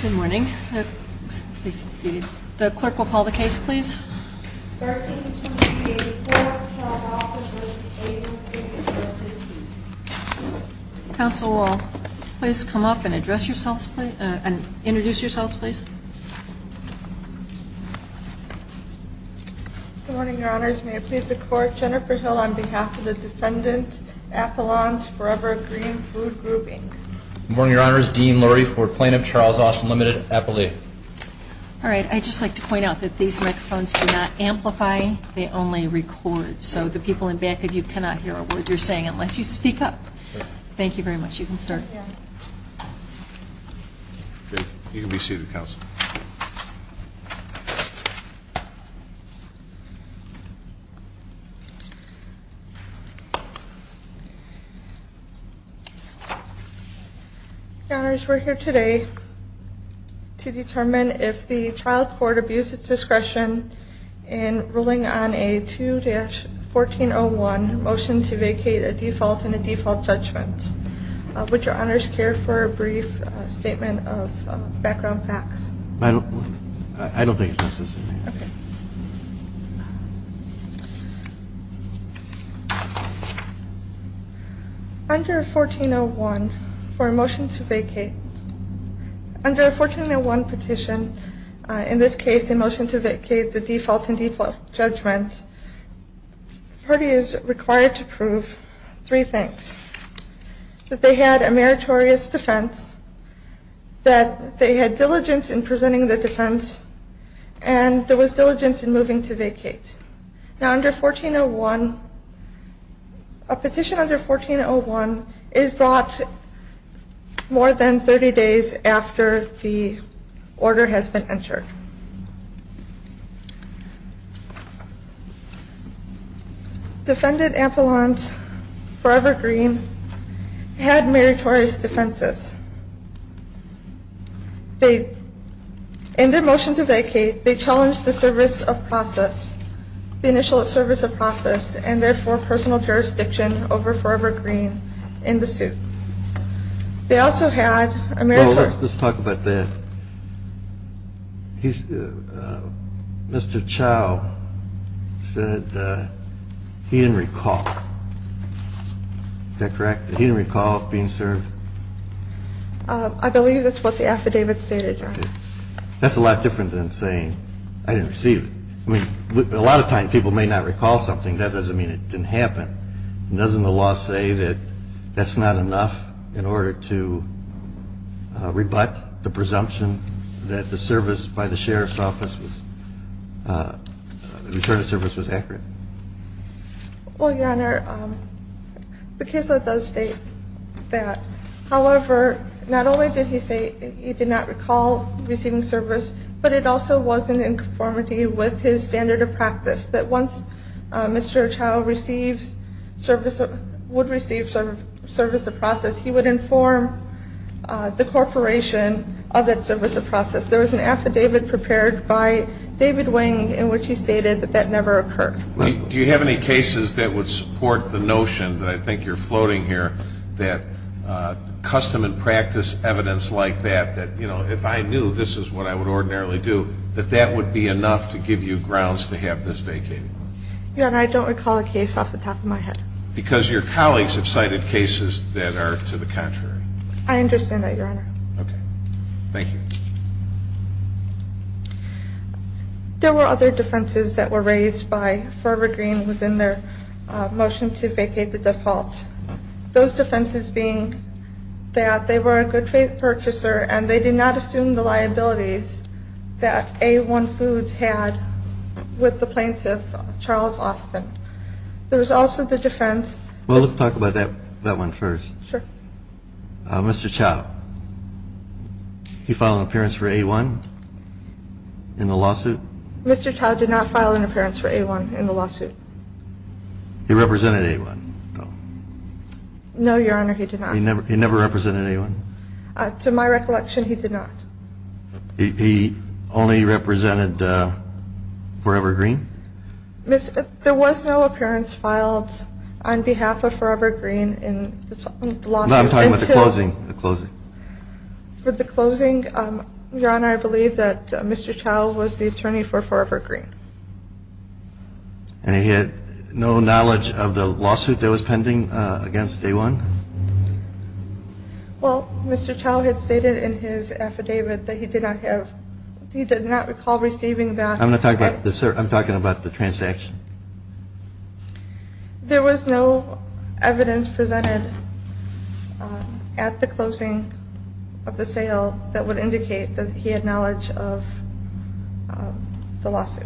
Good morning. Please be seated. The clerk will call the case, please. 13-23-84, Plaintiff Charles Austin v. A-1 Food Services, Inc. Counsel, will you please come up and introduce yourselves, please? Good morning, Your Honors. May it please the Court, Jennifer Hill on behalf of the defendant, Appalachians Forever Green Food Group, Inc. Good morning, Your Honors. Dean Lurie for Plaintiff Charles Austin, Ltd., Appalachia. All right. I'd just like to point out that these microphones do not amplify. They only record. So the people in back of you cannot hear a word you're saying unless you speak up. Thank you very much. You can start. You can be seated, Counsel. Your Honors, we're here today to determine if the child court abused its discretion in ruling on a 2-1401 motion to vacate a default and a default judgment. Would Your Honors care for a brief statement of background facts? I don't think it's necessary. Under 1401 for a motion to vacate, under a 1401 petition, in this case a motion to vacate the default and default judgment, the party is required to prove three things. That they had a meritorious defense, that they had diligence in presenting the defense, and there was diligence in moving to vacate. Now under 1401, a petition under 1401 is brought more than 30 days after the order has been entered. Defended Ampelons Forever Green had meritorious defenses. In their motion to vacate, they challenged the service of process, the initial service of process, and therefore personal jurisdiction over Forever Green in the suit. They also had a meritorious defense. Well, let's talk about that. Mr. Chau said he didn't recall. Is that correct? He didn't recall being served? I believe that's what the affidavit stated, Your Honor. That's a lot different than saying I didn't receive it. I mean, a lot of times people may not recall something. That doesn't mean it didn't happen. Doesn't the law say that that's not enough in order to rebut the presumption that the service by the sheriff's office was, the return of service was accurate? Well, Your Honor, the case does state that. However, not only did he say he did not recall receiving service, but it also was in conformity with his standard of practice that once Mr. Chau would receive service of process, he would inform the corporation of that service of process. There was an affidavit prepared by David Wing in which he stated that that never occurred. Do you have any cases that would support the notion that I think you're floating here, that custom and practice evidence like that, that, you know, if I knew this is what I would ordinarily do, that that would be enough to give you grounds to have this vacated? Your Honor, I don't recall a case off the top of my head. Because your colleagues have cited cases that are to the contrary. I understand that, Your Honor. Okay. Thank you. There were other defenses that were raised by Ferber Green within their motion to vacate the default. Those defenses being that they were a good faith purchaser and they did not assume the liabilities that A1 Foods had with the plaintiff, Charles Austin. There was also the defense. Well, let's talk about that one first. Sure. Mr. Chow, he filed an appearance for A1 in the lawsuit? Mr. Chow did not file an appearance for A1 in the lawsuit. He represented A1, though? No, Your Honor, he did not. He never represented A1? To my recollection, he did not. He only represented Ferber Green? There was no appearance filed on behalf of Ferber Green in the lawsuit. No, I'm talking about the closing. For the closing, Your Honor, I believe that Mr. Chow was the attorney for Ferber Green. And he had no knowledge of the lawsuit that was pending against A1? Well, Mr. Chow had stated in his affidavit that he did not recall receiving that. I'm talking about the transaction. There was no evidence presented at the closing of the sale that would indicate that he had knowledge of the lawsuit.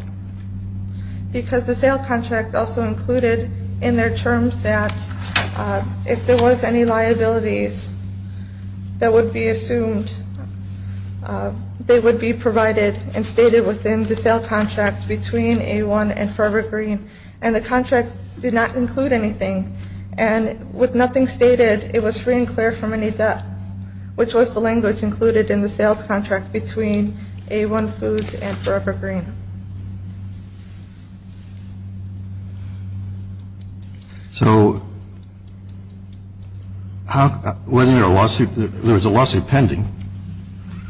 Because the sale contract also included in their terms that if there was any liabilities that would be assumed, they would be provided and stated within the sale contract between A1 and Ferber Green. And the contract did not include anything. And with nothing stated, it was free and clear from any debt, which was the language included in the sales contract between A1 Foods and Ferber Green. So wasn't there a lawsuit? There was a lawsuit pending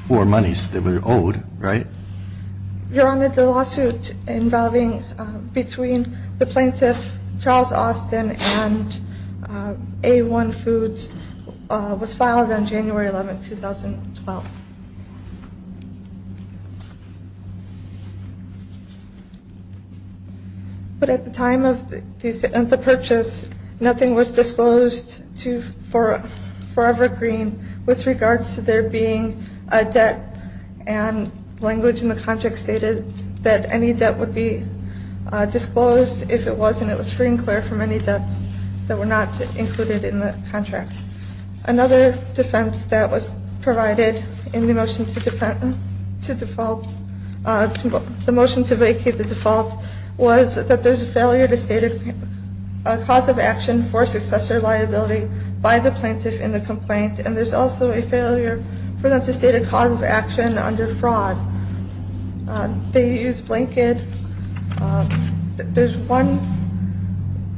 for monies that were owed, right? Your Honor, the lawsuit involving between the plaintiff, Charles Austin, and A1 Foods was filed on January 11, 2012. But at the time of the purchase, nothing was disclosed to Ferber Green with regards to there being a debt. And language in the contract stated that any debt would be disclosed if it wasn't. It was free and clear from any debts that were not included in the contract. Another defense that was provided in the motion to vacate the default was that there's a failure to state a cause of action for successor liability by the plaintiff in the complaint. And there's also a failure for them to state a cause of action under fraud. They use blanket. There's one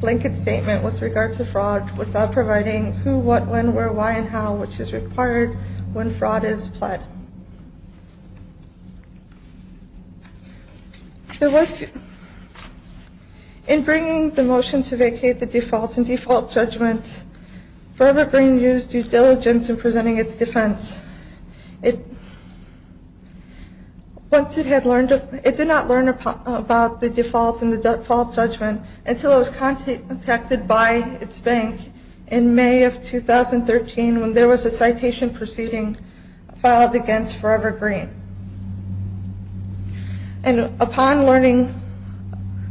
blanket statement with regards to fraud without providing who, what, when, where, why and how, which is required when fraud is pled. There was in bringing the motion to vacate the default and default judgment, Ferber Green used due diligence in presenting its defense. Once it had learned, it did not learn about the default and the default judgment until it was contacted by its bank in May of 2013 when there was a citation proceeding filed against Ferber Green. And upon learning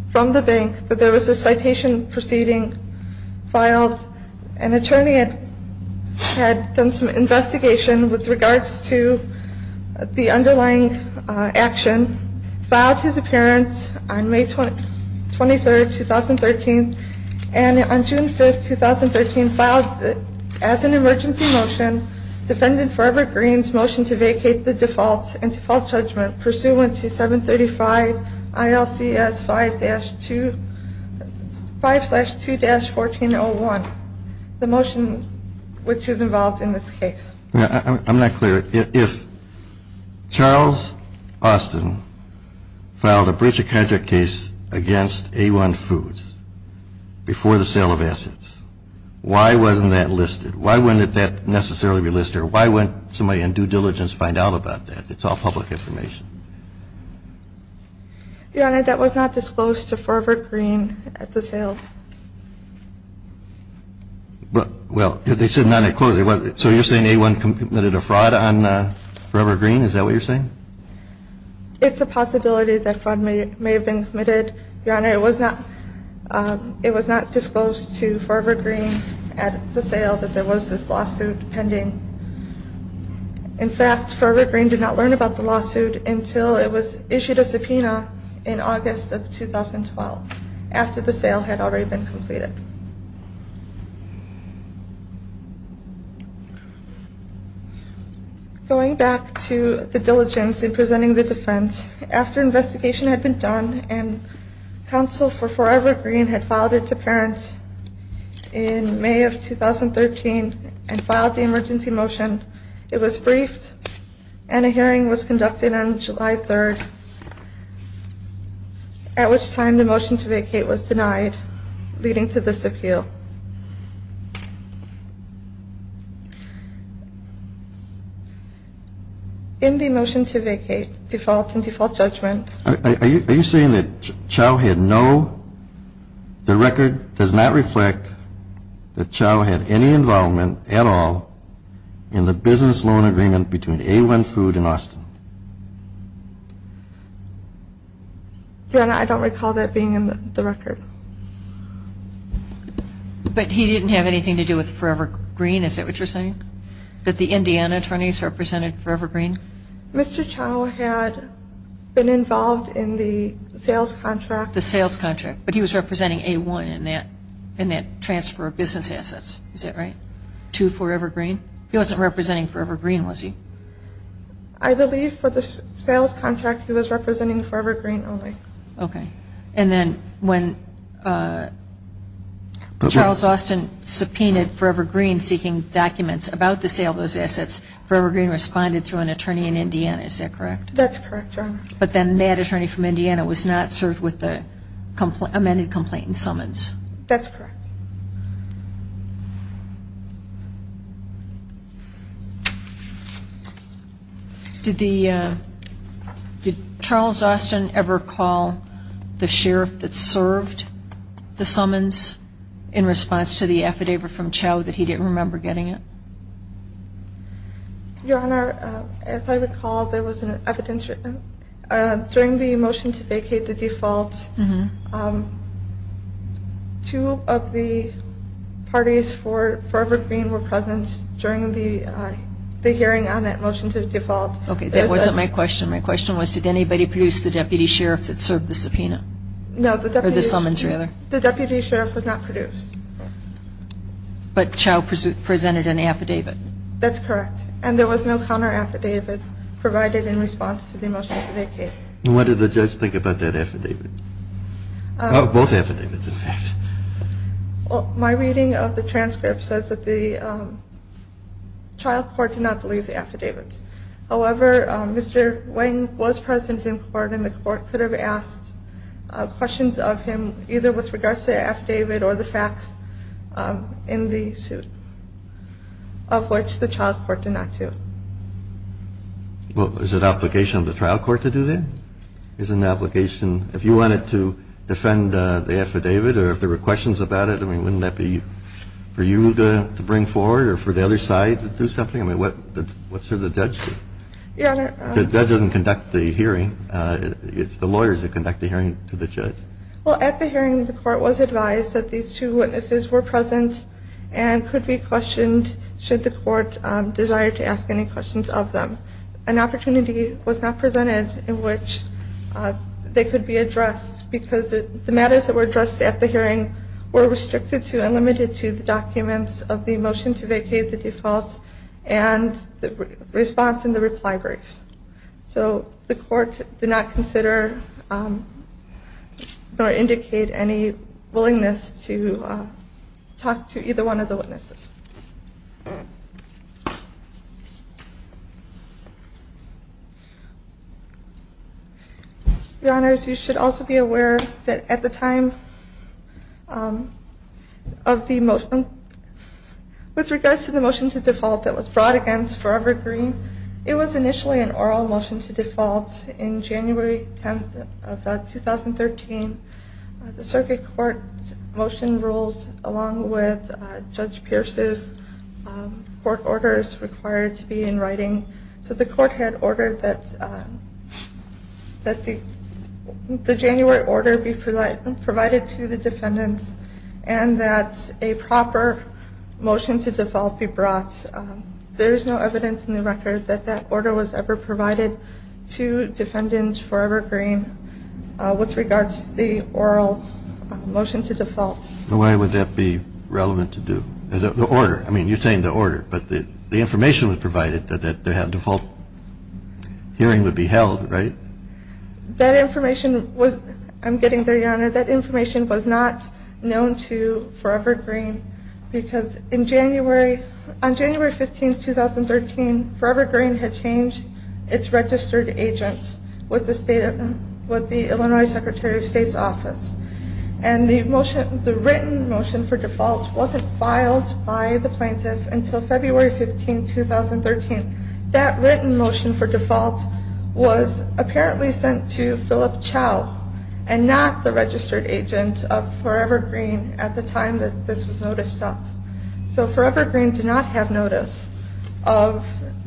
from the bank that there was a citation proceeding filed, an attorney had done some investigation with regards to the underlying action, filed his appearance on May 23rd, 2013, and on June 5th, 2013, and filed as an emergency motion, defendant Ferber Green's motion to vacate the default and default judgment pursuant to 735 ILCS 5-2, 5-2-1401, the motion which is involved in this case. I'm not clear. If Charles Austin filed a breach of contract case against A1 Foods before the sale of assets, why wasn't that listed? Why wouldn't that necessarily be listed or why wouldn't somebody in due diligence find out about that? It's all public information. Your Honor, that was not disclosed to Ferber Green at the sale. Well, they said not disclosed. So you're saying A1 committed a fraud on Ferber Green? Is that what you're saying? It's a possibility that fraud may have been committed, Your Honor. It was not disclosed to Ferber Green at the sale that there was this lawsuit pending. In fact, Ferber Green did not learn about the lawsuit until it was issued a subpoena in August of 2012, after the sale had already been completed. Going back to the diligence in presenting the defense, after investigation had been done and counsel for Ferber Green had filed it to parents in May of 2013 and filed the emergency motion, it was briefed and a hearing was conducted on July 3rd, at which time the motion to vacate was denied, leading to this appeal. In the motion to vacate, default in default judgment. Are you saying that Chau had no, the record does not reflect that Chau had any involvement at all in the business loan agreement between A1 Food and Austin? Your Honor, I don't recall that being in the record. But he didn't have anything to do with Ferber Green, is that what you're saying? That the Indiana attorneys represented Ferber Green? Mr. Chau had been involved in the sales contract. The sales contract, but he was representing A1 in that transfer of business assets, is that right, to Ferber Green? He wasn't representing Ferber Green, was he? I believe for the sales contract he was representing Ferber Green only. Okay. And then when Charles Austin subpoenaed Ferber Green seeking documents about the sale of those assets, Ferber Green responded through an attorney in Indiana, is that correct? That's correct, Your Honor. But then that attorney from Indiana was not served with the amended complaint and summons? That's correct. Did Charles Austin ever call the sheriff that served the summons in response to the affidavit from Chau that he didn't remember getting it? Your Honor, as I recall, during the motion to vacate the default, two of the parties for Ferber Green were present during the hearing on that motion to default. Okay, that wasn't my question. My question was did anybody produce the deputy sheriff that served the subpoena? No, the deputy sheriff was not produced. But Chau presented an affidavit? That's correct. And there was no counter-affidavit provided in response to the motion to vacate. And what did the judge think about that affidavit? Both affidavits, in fact. My reading of the transcript says that the trial court did not believe the affidavits. However, Mr. Wang was present in court and the court could have asked questions of him either with regards to the affidavit or the facts in the suit, of which the trial court did not do. Well, is it an obligation of the trial court to do that? If you wanted to defend the affidavit or if there were questions about it, wouldn't that be for you to bring forward or for the other side to do something? I mean, what should the judge do? The judge doesn't conduct the hearing. It's the lawyers that conduct the hearing to the judge. Well, at the hearing, the court was advised that these two witnesses were present and could be questioned should the court desire to ask any questions of them. An opportunity was not presented in which they could be addressed because the matters that were addressed at the hearing were restricted to and limited to the documents of the motion to vacate the default and the response in the reply briefs. So the court did not consider or indicate any willingness to talk to either one of the witnesses. Your Honors, you should also be aware that at the time of the motion, with regards to the motion to default that was brought against Forever Green, it was initially an oral motion to default in January 10th of 2013. The circuit court motion rules, along with Judge Pierce's court orders required to be in writing, said the court had ordered that the January order be provided to the defendants and that a proper motion to default be brought. There is no evidence in the record that that order was ever provided to defendants for Forever Green with regards to the oral motion to default. Why would that be relevant to do? You're saying the order, but the information was provided that a default hearing would be held, right? I'm getting there, Your Honor. That information was not known to Forever Green because on January 15th, 2013, Forever Green had changed its registered agent with the Illinois Secretary of State's office. The written motion for default wasn't filed by the plaintiff until February 15th, 2013. That written motion for default was apparently sent to Philip Chow and not the registered agent of Forever Green at the time that this was noticed. So Forever Green did not have notice of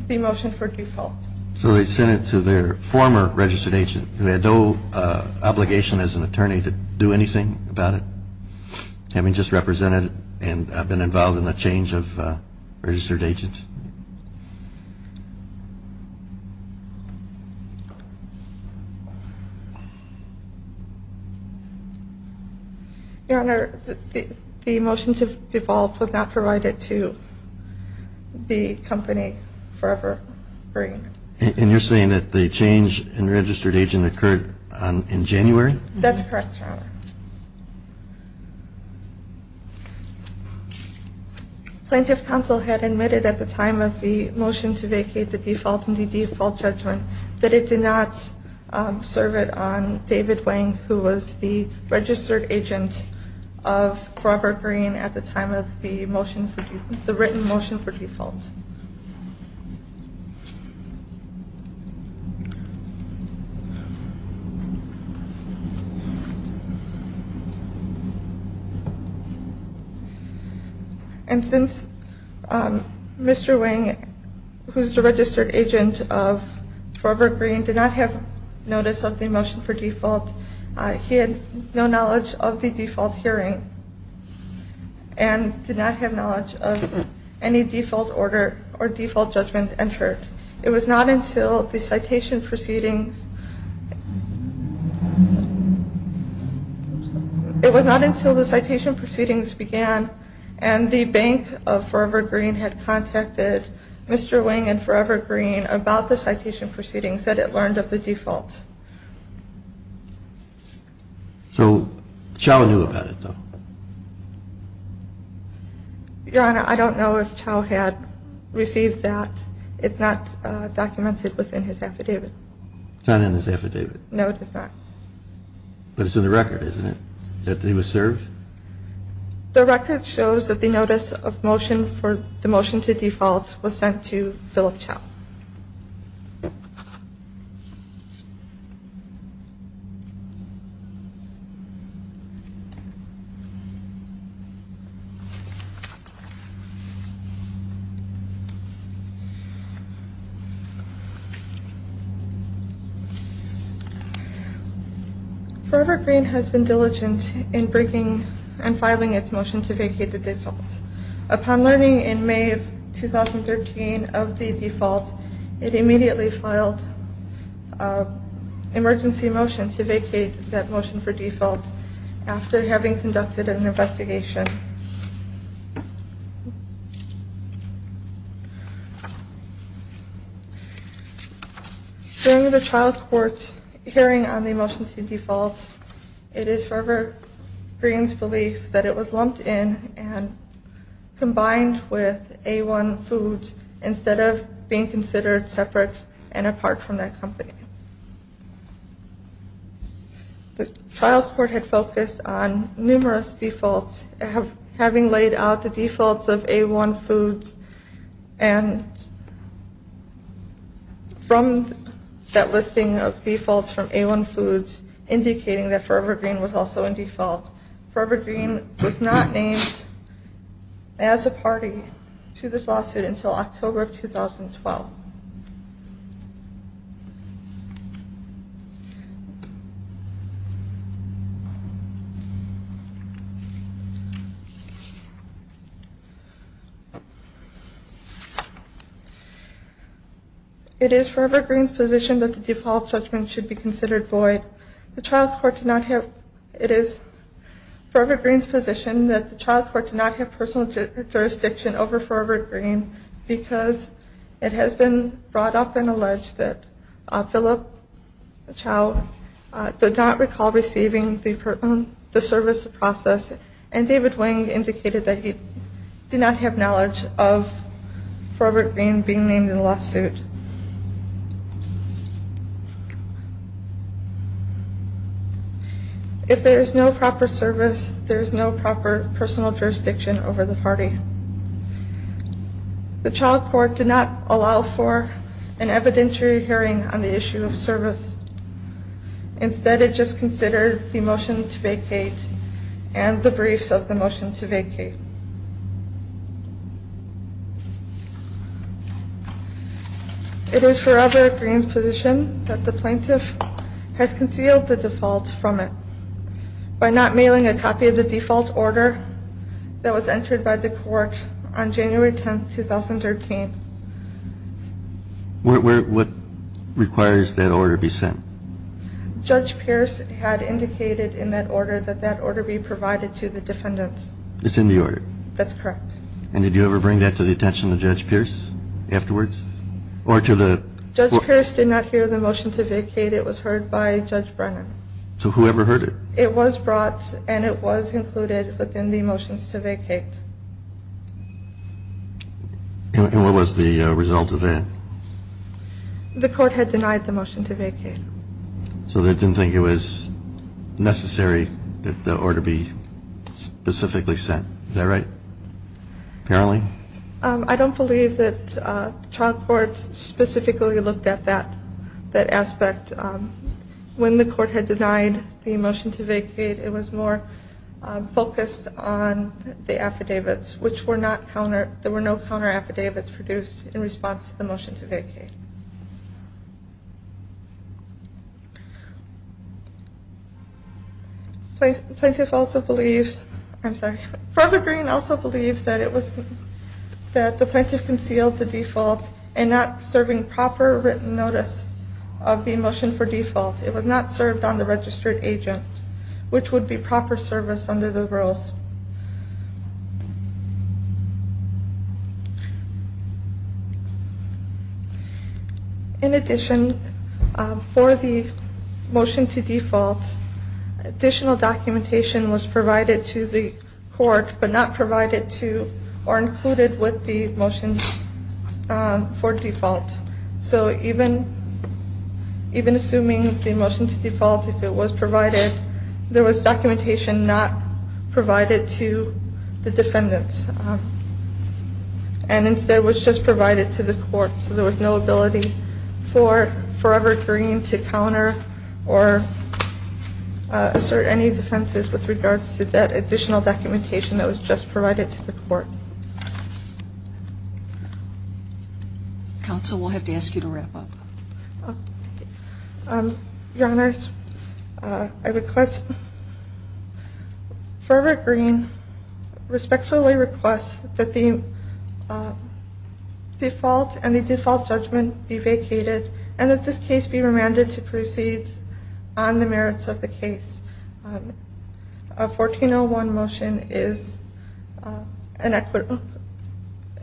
the motion for default. So they sent it to their former registered agent who had no obligation as an attorney to do anything about it, having just represented and been involved in the change of registered agents. Your Honor, the motion to default was not provided to the company Forever Green. And you're saying that the change in registered agent occurred in January? That's correct, Your Honor. Plaintiff counsel had admitted at the time of the motion to vacate the default and the default judgment that it did not serve it on David Wang, who was the registered agent of Forever Green, did not have notice of the motion for default. And since Mr. Wang, who's the registered agent of Forever Green, did not have notice of the motion for default, he had no knowledge of the default hearing and did not have knowledge of any default order or default judgment entered. It was not until the citation proceedings, it was not until the citation proceedings began and the bank of Forever Green had contacted Mr. Wang and Forever Green about the citation proceedings that it learned of the default. So Chau knew about it, though? Your Honor, I don't know if Chau had received that. It's not documented within his affidavit. It's not in his affidavit? No, it is not. But it's in the record, isn't it, that he was served? The record shows that the notice of motion for the motion to default was sent to Philip Chau. Forever Green has been diligent in bringing and filing its motion to vacate the default. Upon learning in May of 2013 of the default, it immediately filed an emergency motion to vacate that motion for default after having conducted an investigation. During the trial court hearing on the motion to default, it is Forever Green's belief that it was lumped in and separate and apart from that company. The trial court had focused on numerous defaults, having laid out the defaults of A1 Foods and from that listing of defaults from A1 Foods, indicating that Forever Green was also in default. Forever Green was not named as a party to this lawsuit until October of 2012. It is Forever Green's position that the default judgment should be considered void. It is Forever Green's position that the trial court did not have personal jurisdiction over Forever Green because it has been brought up and alleged that Philip Chau did not recall receiving the service of process and David Wing indicated that he did not have knowledge of Forever Green being named in the lawsuit. If there is no proper service, there is no proper personal jurisdiction over the party. The trial court did not allow for an evidentiary hearing on the issue of service. Instead, it just considered the motion to vacate and the briefs of the motion to vacate. It is Forever Green's position that the plaintiff has concealed the defaults from it by not mailing a copy of the default order that was entered by the court on January 10, 2013. What requires that order be sent? Judge Pierce had indicated in that order that that order be provided to the defendants. It's in the order? That's correct. And did you ever bring that to the attention of Judge Pierce afterwards? Judge Pierce did not hear the motion to vacate. It was heard by Judge Brennan. So whoever heard it? It was brought and it was included within the motions to vacate. And what was the result of that? The court had denied the motion to vacate. So they didn't think it was necessary that the order be specifically sent. Is that right? Apparently? I don't believe that the trial court specifically looked at that aspect. When the court had denied the motion to vacate, it was more focused on the affidavits, which were not counter, there were no counter affidavits produced in response to the motion to vacate. Plaintiff also believes, I'm sorry, Forever Green also believes that the plaintiff concealed the default and not serving proper written notice of the motion for default. It was not served on the registered agent, which would be proper service under the rules. In addition, for the motion to default, additional documentation was provided to the court, but not provided to or included with the motion for default. So even assuming the motion to default, if it was provided, there was documentation not provided to the defendants and instead was just provided to the court. So there was no ability for Forever Green to counter or assert any defenses with regards to that additional documentation that was just provided to the court. Counsel, we'll have to ask you to wrap up. Your Honor, I request Forever Green respectfully requests that the default and the default judgment be vacated and that this case be remanded to proceed on the merits of the case. A 1401 motion is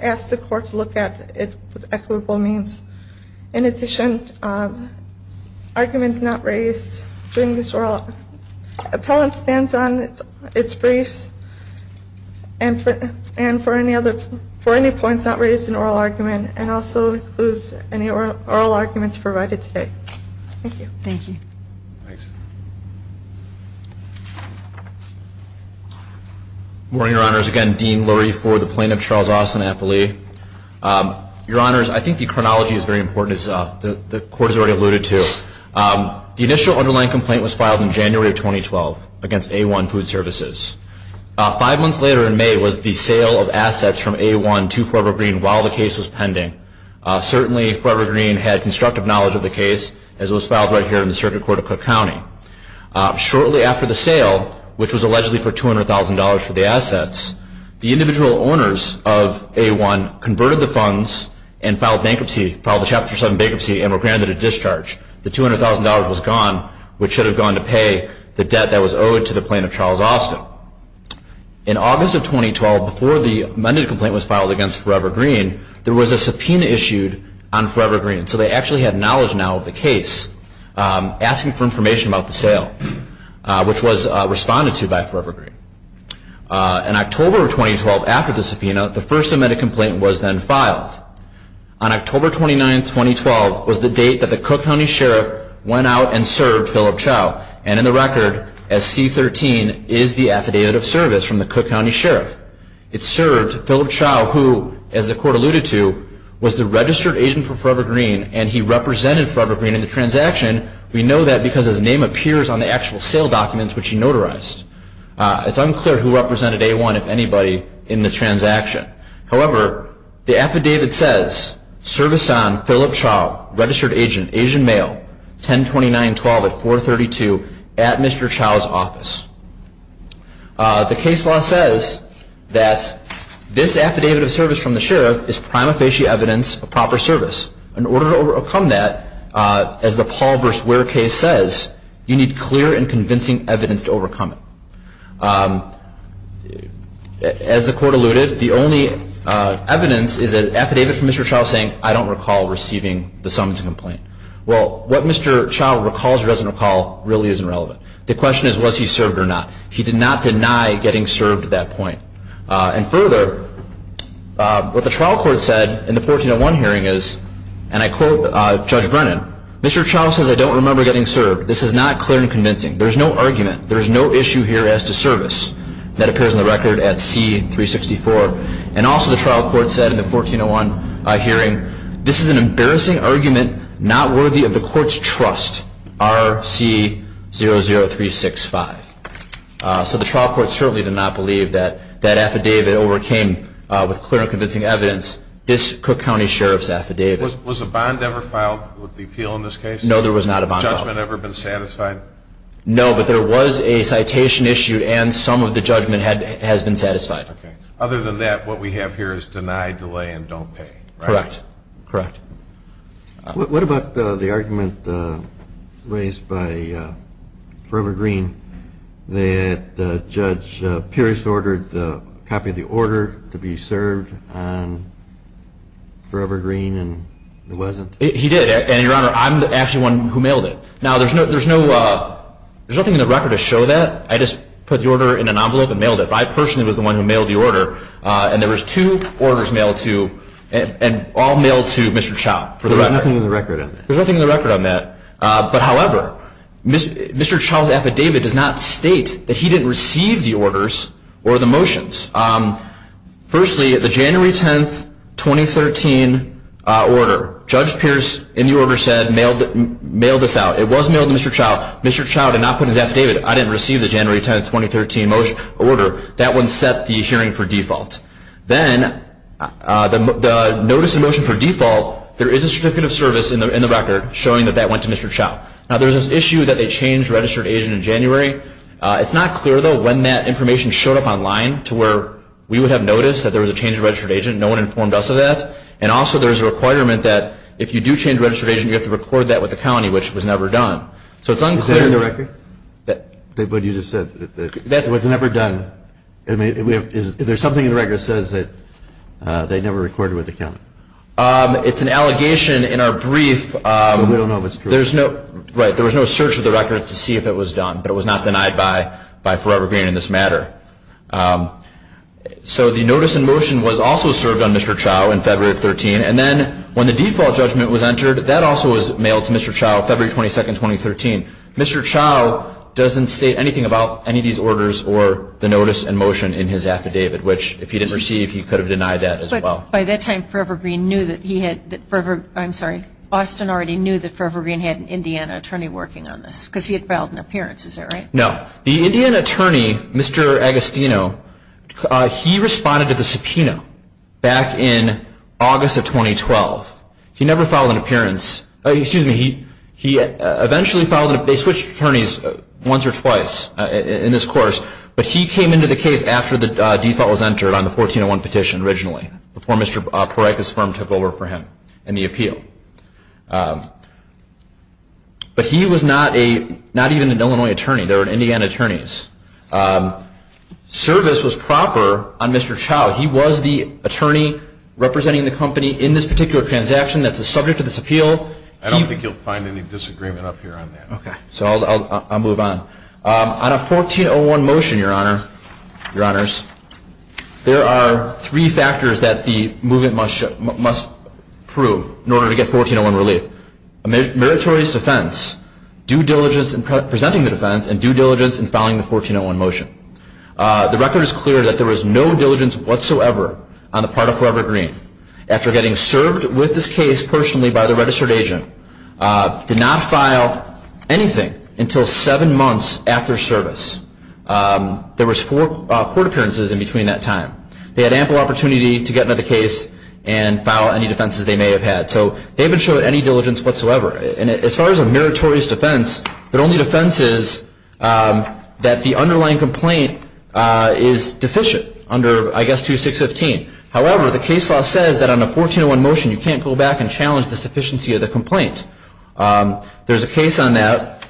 asked the court to look at it with equitable means. In addition, arguments not raised during this oral appellant stands on its briefs and for any points not raised in oral argument and also includes any oral arguments provided today. Thank you. Morning, Your Honors. Again, Dean Lurie for the plaintiff, Charles Austin Appley. Your Honors, I think the chronology is very important as the court has already alluded to. The initial underlying complaint was filed in January of 2012 against A1 Food Services. Five months later in May was the sale of assets from A1 to Forever Green while the case was pending. Certainly, Forever Green had constructive knowledge of the case as it was filed right here in the Circuit Court of Cook County. Shortly after the sale, which was allegedly for $200,000 for the assets, the individual owners of A1 converted the funds and filed bankruptcy, filed a Chapter 7 bankruptcy and were granted a discharge. The $200,000 was gone, which should have gone to pay the debt that was owed to the plaintiff, Charles Austin. In August of 2012, before the amended complaint was filed against Forever Green, there was a subpoena issued on Forever Green. So they actually had knowledge now of the case, asking for information about the sale, which was responded to by Forever Green. In October of 2012, after the subpoena, the first amended complaint was then filed. On October 29, 2012, was the case that the Cook County Sheriff went out and served Philip Chow. And in the record, SC-13 is the affidavit of service from the Cook County Sheriff. It served Philip Chow, who, as the Court alluded to, was the registered agent for Forever Green and he represented Forever Green in the transaction. We know that because his name appears on the actual sale documents which he notarized. It's unclear who represented A1, if anybody, in the transaction. However, the affidavit says, service on Philip Chow, registered agent, Asian male, 10-29-12 at 432 at Mr. Chow's office. The case law says that this affidavit of service from the Sheriff is prima facie evidence of proper service. In order to overcome that, as the Paul v. Ware case says, you need clear and convincing evidence to prove that you served. The only evidence is an affidavit from Mr. Chow saying, I don't recall receiving the summons complaint. Well, what Mr. Chow recalls or doesn't recall really isn't relevant. The question is, was he served or not? He did not deny getting served at that point. And further, what the trial court said in the 1401 hearing is, and I quote Judge Brennan, Mr. Chow says, I don't remember getting served. This is not clear and convincing. There's no argument. There's no issue here as to service. That appears in the record at C-364. And also the trial court said in the 1401 hearing, this is an embarrassing argument not worthy of the court's trust, R-C-00365. So the trial court certainly did not believe that that affidavit overcame with clear and convincing evidence this Cook County Sheriff's affidavit. Was a bond ever filed with the appeal in this case? No, there was not a bond. Judgment ever been satisfied? No, but there was a citation issue and some of the judgment has been satisfied. Other than that, what we have here is deny, delay, and don't pay. Correct. What about the argument raised by Forever Green that Judge Pierce ordered a copy of the order to be mailed to Mr. Chow? He did, and Your Honor, I'm actually the one who mailed it. Now, there's nothing in the record to show that. I just put the order in an envelope and mailed it, but I personally was the one who mailed the order. And there was two orders mailed to, and all mailed to Mr. Chow for the record. There's nothing in the record on that. But however, Mr. Chow's affidavit does not state that he didn't receive the orders or the motions. Firstly, the January 10, 2013 order, Judge Pierce in the order said, mailed this out. It was mailed to Mr. Chow. Mr. Chow did not put his affidavit, I didn't receive the January 10, 2013 order. That one set the hearing for default. Then, the notice of motion for default, there is a certificate of service in the record showing that that went to Mr. Chow. Now, there's this issue that they changed registered agent in January. It's not clear, though, when that information showed up online to where we would have noticed that there was a change in registered agent. No one informed us of that. And also, there's a requirement that if you do change registered agent, you have to record that with the county, which was never done. So, it's unclear. Is that in the record? What you just said? What's never done? Is there something in the record that says that they never recorded with the county? It's an allegation in our brief. But we don't know if it's true. Right. There was no search of the record to see if it was done. But it was not denied by Forever Green in this matter. So, the notice in motion was also served on Mr. Chow in February of 2013. And then, when the default judgment was entered, that also was mailed to Mr. Chow, February 22, 2013. Mr. Chow doesn't state anything about any of these orders or the notice in motion in his affidavit, which if he didn't receive, he could have denied that as well. But by that time, Forever Green knew that he had, I'm sorry, Boston already knew that Forever Green had an Indiana attorney working on this because he had filed an appearance. Is that right? No. The Indiana attorney, Mr. Agostino, he responded to the subpoena back in August of 2012. He never filed an appearance. Excuse me. He eventually filed an appearance. They switched attorneys once or twice in this course. But he came into the case after the default was entered on the 1401 petition originally, before Mr. Proreca's firm took over for him in the appeal. But he was not even an Illinois attorney. They were Indiana attorneys. Service was proper on Mr. Chow. He was the attorney representing the company in this particular transaction that's the subject of this appeal. I don't think you'll find any disagreement up here on that. Okay. So I'll move on. On a 1401 motion, Your Honor, Your Honors, there are three factors that the movement must prove in order to get 1401 relief. Meritorious defense, due diligence in presenting the defense, and due diligence in filing the 1401 motion. The record is clear that there was no diligence whatsoever on the part of Forever Green. After getting served with this case personally by the registered agent, did not file anything until seven months after service. There was four court appearances in between that time. They had ample opportunity to get another case and file any defenses they may have had. So they haven't showed any diligence whatsoever. And as far as a meritorious defense, their only defense is that the underlying complaint is deficient under, I guess, 2615. However, the case law says that on a 1401 motion, you can't go back and challenge the sufficiency of the complaint. There's a case on that.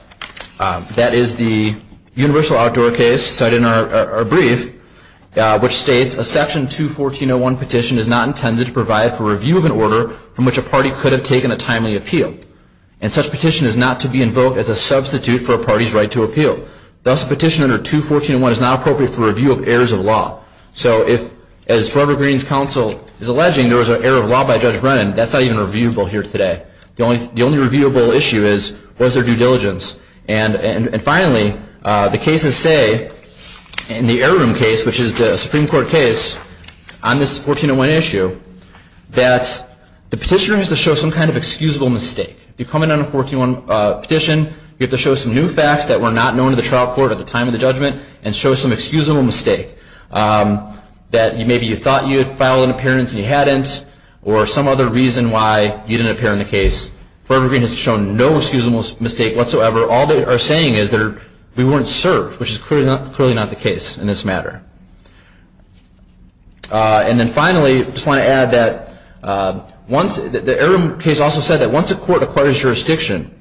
That is the Universal Outdoor Case cited in our brief, which states a section 21401 petition is not intended to provide for review of an order from which a party could have taken a timely appeal. And such petition is not to be invoked as a substitute for a party's right to appeal. Thus, a petition under 21401 is not appropriate for review of errors of law. So if, as Forever Green's counsel is alleging, there was an error of law by Judge Brennan, that's not even reviewable here today. The only reviewable issue is, was there due diligence? And finally, the cases say, in the Error Room case, which is the Supreme Court case, on this 1401 issue, that the petitioner has to show some kind of excusable mistake. If you come in on a 1401 petition, you have to show some new facts that were not known to the trial court at the time of the judgment, and show some excusable mistake. That maybe you thought you had filed an appearance and you hadn't, or some other reason why you didn't appear in the case. Forever Green has shown no excusable mistake whatsoever. All they are saying is that we weren't served, which is clearly not the case in this matter. And then finally, I just want to add that the Error Room case also said that once a court acquires jurisdiction,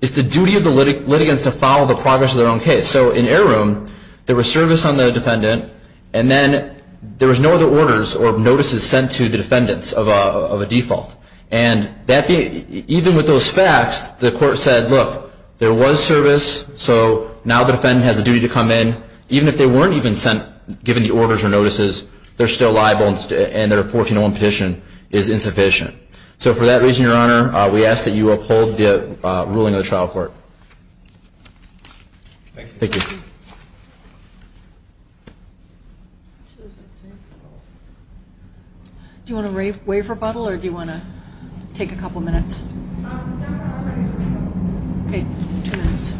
it's the duty of the litigants to follow the progress of their own case. So in Error Room, there was service on the defendant, and then there was no other orders or notices sent to the defendants of a default. And even with those facts, the court said, look, there was service, so now the defendant has a duty to come in. Even if they weren't even given the orders or notices, they're still liable, and their 1401 petition is insufficient. So for that reason, Your Honor, we ask that you uphold the ruling of the trial court. Thank you. Thank you. Do you want to waive rebuttal, or do you want to take a couple minutes? No, I'm ready for rebuttal. Okay, two minutes.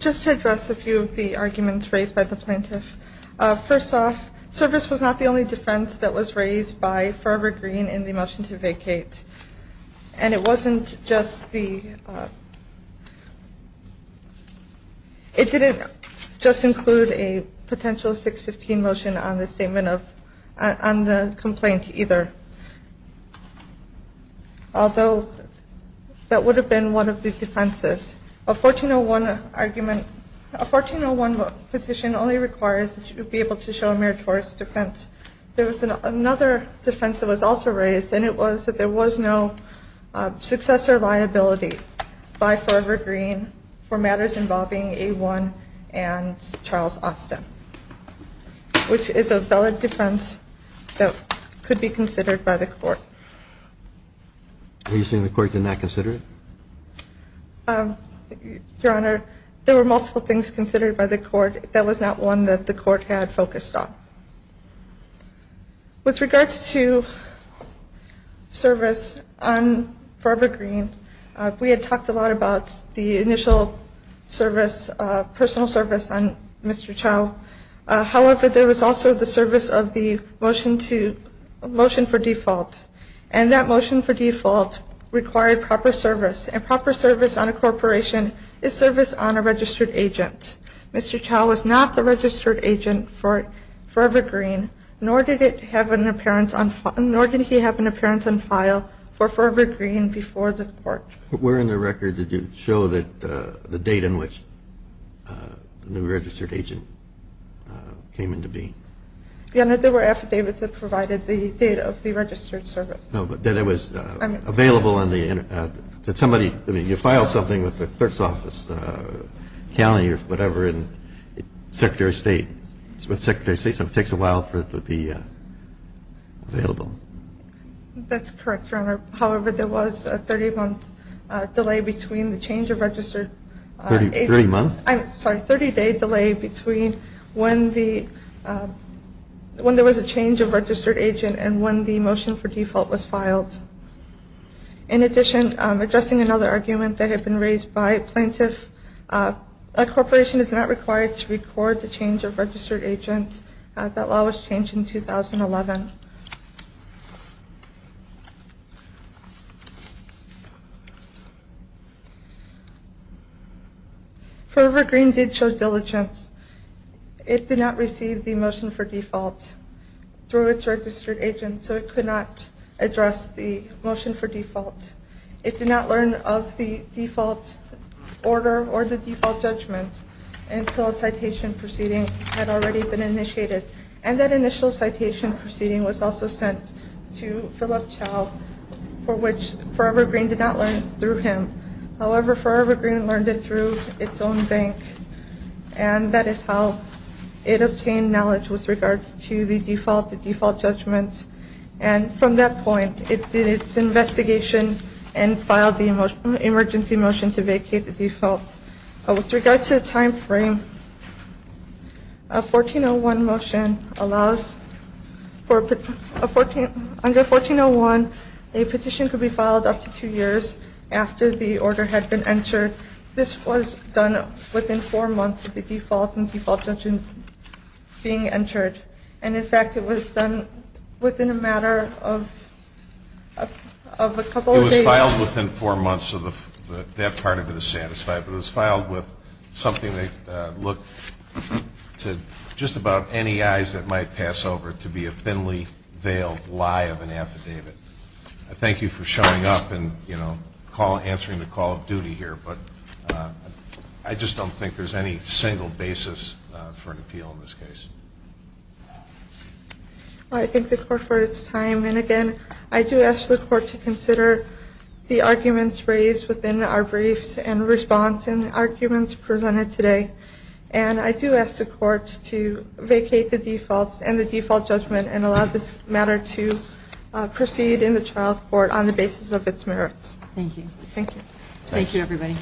Just to address a few of the arguments raised by the plaintiff, first off, service was not the only defense that was raised by Forever Green in the motion to vacate. And it wasn't just the ‑‑ it didn't just include a potential 615 motion on the statement of ‑‑ on the complaint either, although that would have been one of the defenses. A 1401 argument ‑‑ a 1401 petition only requires that you be able to show a meritorious defense. There was another defense that was also raised, and it was that there was no successor liability by Forever Green for matters involving A1 and Charles Austin, which is a valid defense that could be considered by the court. Are you saying the court did not consider it? Your Honor, there were multiple things considered by the court. That was not one that the court had focused on. With regards to service on Forever Green, we had talked a lot about the initial service, personal service on Mr. Chau. However, there was also the service of the motion for default, and that motion for default required proper service, and proper service on a corporation is service on a registered agent. Mr. Chau was not the registered agent for Forever Green, nor did he have an appearance on file for Forever Green before the court. But where in the record did you show the date in which the new registered agent came in to be? Your Honor, there were affidavits that provided the date of the registered service. No, but that it was available in the, that somebody, I mean, you file something with the clerk's office, county or whatever, and Secretary of State, with Secretary of State, so it takes a while for it to be available. That's correct, Your Honor. However, there was a 30-month delay between the change of registered agent. 30-month? I'm sorry, 30-day delay between when there was a change of registered agent and when the motion for default was filed. In addition, addressing another argument that had been raised by a plaintiff, a corporation is not required to record the change of registered agent. That law was changed in 2011. Forever Green did show diligence. It did not receive the motion for default through its registered agent, so it could not address the motion for default. It did not learn of the default order or the default judgment until a citation proceeding had already been initiated, and that initial citation proceeding was also sent to Philip Chow, for which Forever Green did not learn through him. However, Forever Green learned it through its own bank, and that is how it obtained knowledge with regards to the default judgments, and from that point it did its investigation and filed the emergency motion to vacate the default. With regards to the time frame, under 1401, a petition could be filed up to two years after the order had been entered. This was done within four months of the default and default judgment being entered, and in fact it was done within a matter of a couple of days. It was filed within four months, so that part of it is satisfied, but it was filed with something that looked to just about any eyes that might pass over to be a thinly-veiled lie of an affidavit. Thank you for showing up and answering the call of duty here, but I just don't think there's any single basis for an appeal in this case. I thank the Court for its time, and again, I do ask the Court to consider the arguments raised within our briefs and the response and arguments presented today, and I do ask the Court to vacate the default and the default judgment and allow this matter to proceed in the trial court on the basis of its merits. Thank you. Thank you, everybody.